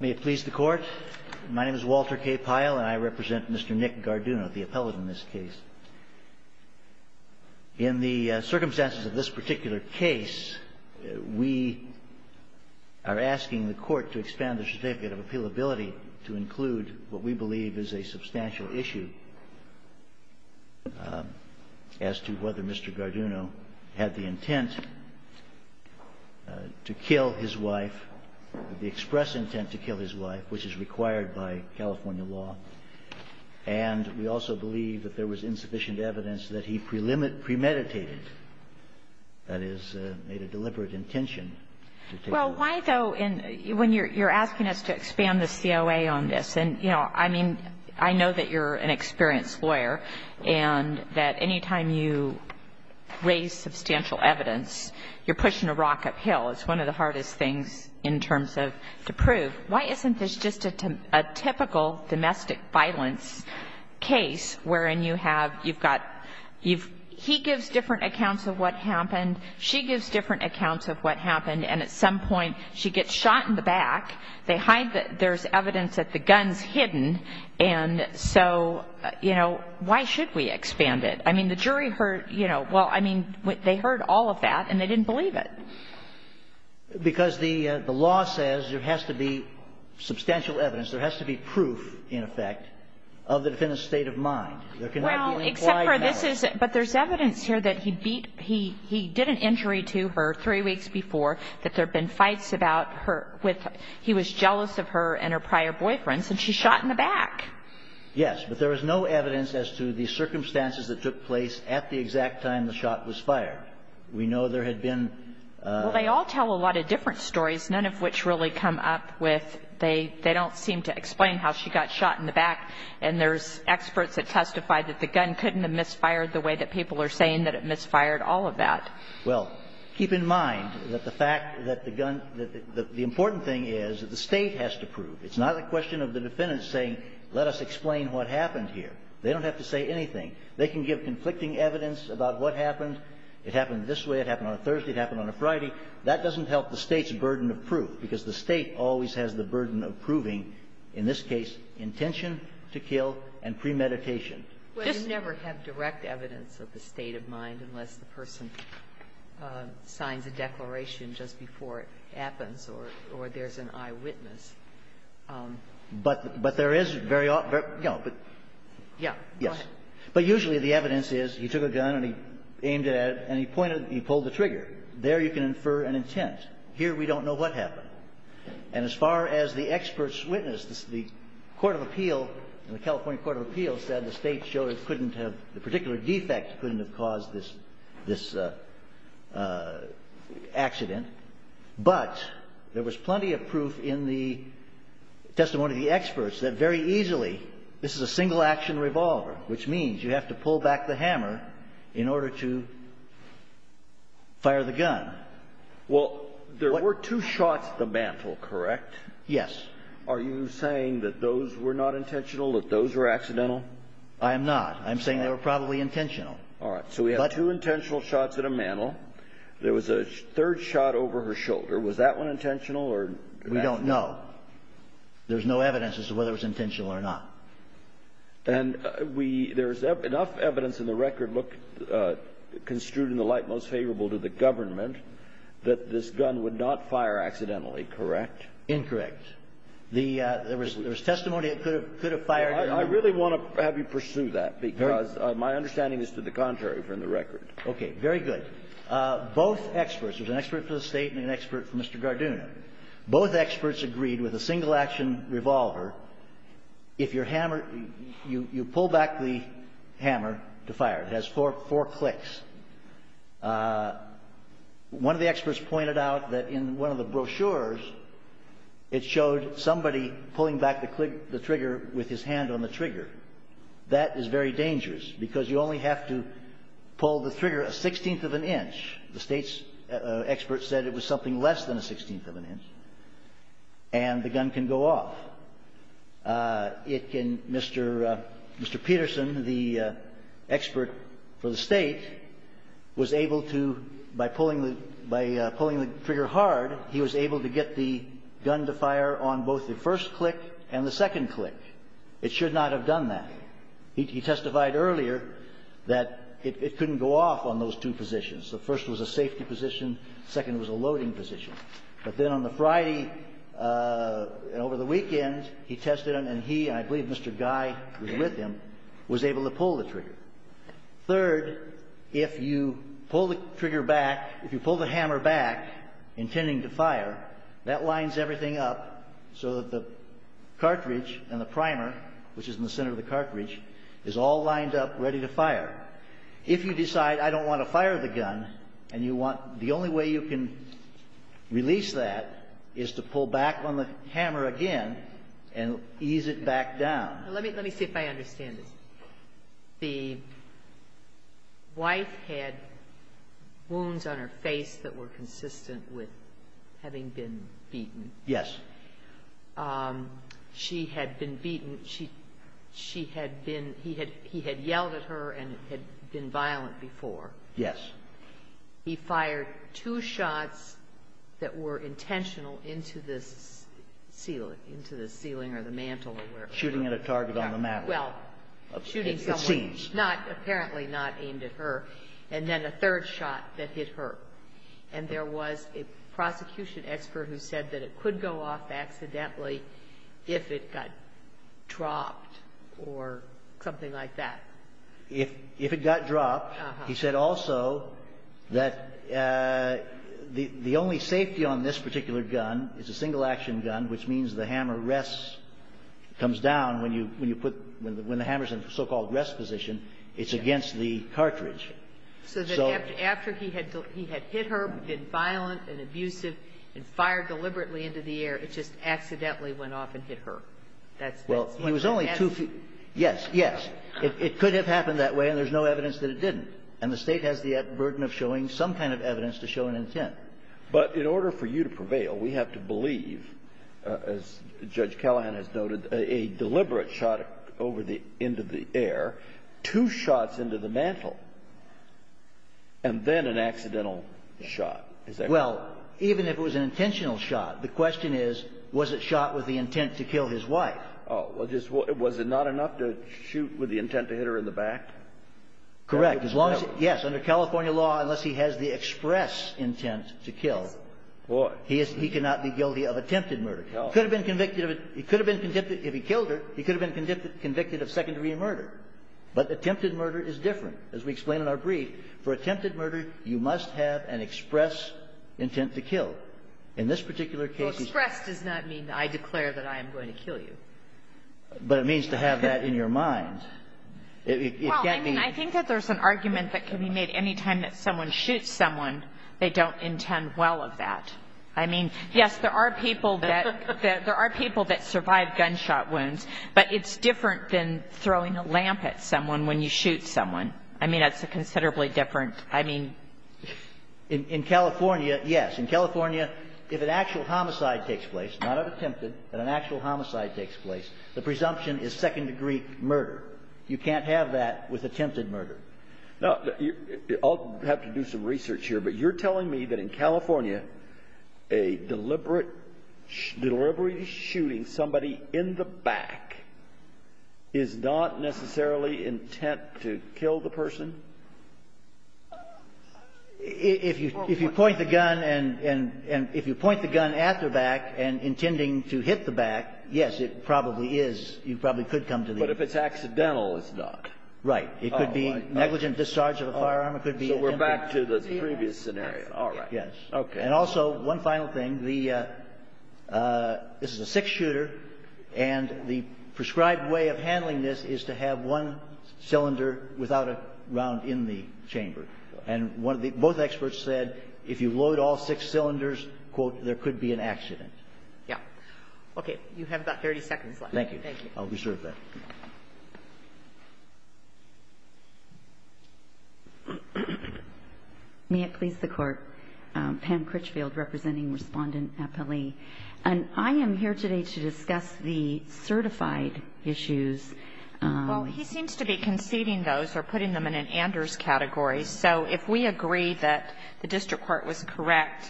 May it please the court. My name is Walter K. Pyle and I represent Mr. Nick Garduno, the appellate in this case. In the circumstances of this particular case, we are asking the court to expand the certificate of appealability to include what we believe is a substantial issue as to whether Mr. Garduno had the intent to kill his wife, the express intent to kill his wife, which is required by California law. And we also believe that there was insufficient evidence that he premeditated, that is, made a deliberate intention. Well, why, though, when you're asking us to expand the COA on this? And, you know, I mean, I know that you're an experienced lawyer and that any time you raise substantial evidence, you're pushing a rock uphill. It's one of the hardest things in terms of to prove. Why isn't this just a typical domestic violence case wherein you have you've got he gives different accounts of what happened, she gives different accounts of what happened, and at some point she gets shot in the back. They hide that there's evidence that the gun's hidden. And so, you know, why should we expand it? I mean, the jury heard, you know, well, I mean, they heard all of that and they didn't believe it. Because the law says there has to be substantial evidence, there has to be proof, in effect, of the defendant's state of mind. There cannot be implied evidence. Well, except for this is – but there's evidence here that he beat – he did an injury to her three weeks before, that there have been fights about her with – he was jealous of her and her prior boyfriends, and she shot in the back. Yes. But there was no evidence as to the circumstances that took place at the exact time the shot was fired. We know there had been – Well, they all tell a lot of different stories, none of which really come up with – they don't seem to explain how she got shot in the back. And there's experts that testify that the gun couldn't have misfired the way that people are saying that it misfired all of that. Well, keep in mind that the fact that the gun – the important thing is that the State has to prove. It's not a question of the defendant saying, let us explain what happened here. They don't have to say anything. They can give conflicting evidence about what happened. It happened this way, it happened on a Thursday, it happened on a Friday. That doesn't help the State's burden of proof, because the State always has the burden of proving, in this case, intention to kill and premeditation. Well, you never have direct evidence of the state of mind unless the person signs a declaration just before it happens or there's an eyewitness. But there is very – you know. Yes. Go ahead. But usually the evidence is he took a gun and he aimed it at it and he pointed – he pulled the trigger. There you can infer an intent. Here we don't know what happened. And as far as the experts witness, the court of appeal, the California court of appeal said the State showed it couldn't have – the particular defect couldn't have caused this accident. But there was plenty of proof in the testimony of the experts that very easily this is a single-action revolver, which means you have to pull back the hammer in order to fire the gun. Well, there were two shots at the mantle, correct? Yes. Are you saying that those were not intentional, that those were accidental? I am not. I'm saying they were probably intentional. All right. So we have two intentional shots at a mantle. There was a third shot over her shoulder. Was that one intentional or accidental? We don't know. There's no evidence as to whether it was intentional or not. And we – there's enough evidence in the record, look, construed in the light most favorable to the government, that this gun would not fire accidentally, correct? Incorrect. The – there was testimony it could have fired. I really want to have you pursue that, because my understanding is to the contrary from the record. Okay. Very good. Both experts – there's an expert for the State and an expert for Mr. Garduna. Both experts agreed with a single-action revolver, if your hammer – you pull back the hammer to fire. It has four clicks. One of the experts pointed out that in one of the brochures, it showed somebody pulling back the trigger with his hand on the trigger. That is very dangerous, because you only have to pull the trigger a sixteenth of an inch. The State's expert said it was something less than a sixteenth of an inch, and the gun can go off. It can – Mr. Peterson, the expert for the State, was able to, by pulling the – by pulling the trigger hard, he was able to get the gun to fire on both the first click and the second click. It should not have done that. He testified earlier that it couldn't go off on those two positions. The first was a safety position. The second was a loading position. But then on the Friday and over the weekend, he tested it, and he – and I believe Mr. Guy was with him – was able to pull the trigger. Third, if you pull the trigger back – if you pull the hammer back, intending to fire, that lines everything up so that the cartridge and the primer, which is in the center of the cartridge, is all lined up, ready to fire. If you decide, I don't want to fire the gun, and you want – the only way you can release that is to pull back on the hammer again and ease it back down. Let me – let me see if I understand this. The wife had wounds on her face that were consistent with having been beaten. Yes. She had been beaten. She – she had been – he had – he had yelled at her and had been violent before. Yes. He fired two shots that were intentional into this ceiling – into the ceiling or the mantel or wherever. Shooting at a target on the mantel. Well – Shooting someone. At scenes. Not – apparently not aimed at her. And then a third shot that hit her. And there was a prosecution expert who said that it could go off accidentally if it got dropped or something like that. If – if it got dropped. Uh-huh. He said also that the – the only safety on this particular gun is a single-action gun, which means the hammer rests – comes down when you – when you put – when the hammer's in the so-called rest position. It's against the cartridge. So that after he had – he had hit her, been violent and abusive, and fired deliberately into the air, it just accidentally went off and hit her. That's – that's – Well, it was only two – yes, yes. It could have happened that way, and there's no evidence that it didn't. And the State has the burden of showing some kind of evidence to show an intent. But in order for you to prevail, we have to believe, as Judge Callahan has noted, a deliberate shot over the – into the air, two shots into the mantel, and then an accidental shot. Is that right? Well, even if it was an intentional shot, the question is, was it shot with the intent to kill his wife? Well, just – was it not enough to shoot with the intent to hit her in the back? Correct. As long as – yes. Under California law, unless he has the express intent to kill, he is – he cannot be guilty of attempted murder. No. He could have been convicted of – he could have been convicted – if he killed her, he could have been convicted of secondary murder. But attempted murder is different. As we explain in our brief, for attempted murder, you must have an express intent to kill. In this particular case, he's – But it means to have that in your mind. It can't be – Well, I mean, I think that there's an argument that can be made anytime that someone shoots someone, they don't intend well of that. I mean, yes, there are people that – there are people that survive gunshot wounds, but it's different than throwing a lamp at someone when you shoot someone. I mean, that's a considerably different – I mean – In California, yes. In California, if an actual homicide takes place, not of attempted, but an actual homicide takes place, the presumption is second-degree murder. You can't have that with attempted murder. No. I'll have to do some research here, but you're telling me that in California, a deliberate – deliberate shooting somebody in the back is not necessarily intent to kill the person? If you – if you point the gun and – and if you point the gun at their back and intending to hit the back, yes, it probably is. You probably could come to the – But if it's accidental, it's not. Right. It could be negligent discharge of a firearm. It could be – So we're back to the previous scenario. All right. Okay. And also, one final thing. This is a six-shooter, and the prescribed way of handling this is to have one cylinder without a round in the chamber. And one of the – both experts said if you load all six cylinders, quote, there could be an accident. Yeah. Okay. You have about 30 seconds left. Thank you. Thank you. I'll reserve that. May it please the Court. Pam Critchfield, representing Respondent Appellee. And I am here today to discuss the certified issues. Well, he seems to be conceding those or putting them in an Anders category. So if we agree that the district court was correct,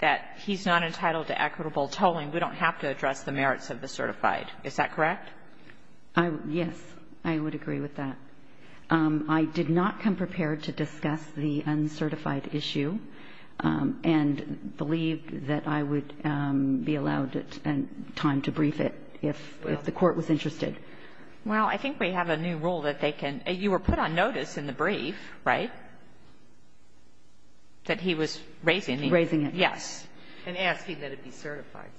that he's not entitled to equitable tolling, we don't have to address the merits of the certified. Is that correct? I agree. Yes, I would agree with that. I did not come prepared to discuss the uncertified issue and believe that I would be allowed time to brief it if the Court was interested. Well, I think we have a new rule that they can – you were put on notice in the brief, right, that he was raising it? Raising it, yes. And asking that it be certified.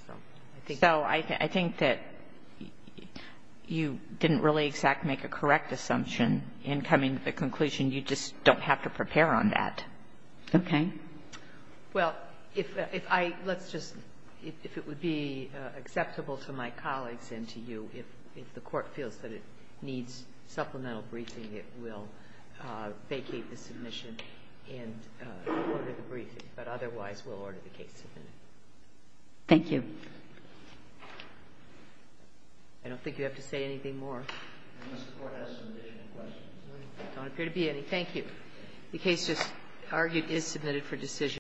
So I think that you didn't really exactly make a correct assumption in coming to the conclusion. You just don't have to prepare on that. Okay. Well, if I – let's just – if it would be acceptable to my colleagues and to you, if the Court feels that it needs supplemental briefing, it will vacate the submission and order the briefing. But otherwise, we'll order the case submitted. Thank you. I don't think you have to say anything more. Unless the Court has some additional questions. There don't appear to be any. Thank you. The case just argued is submitted for decision.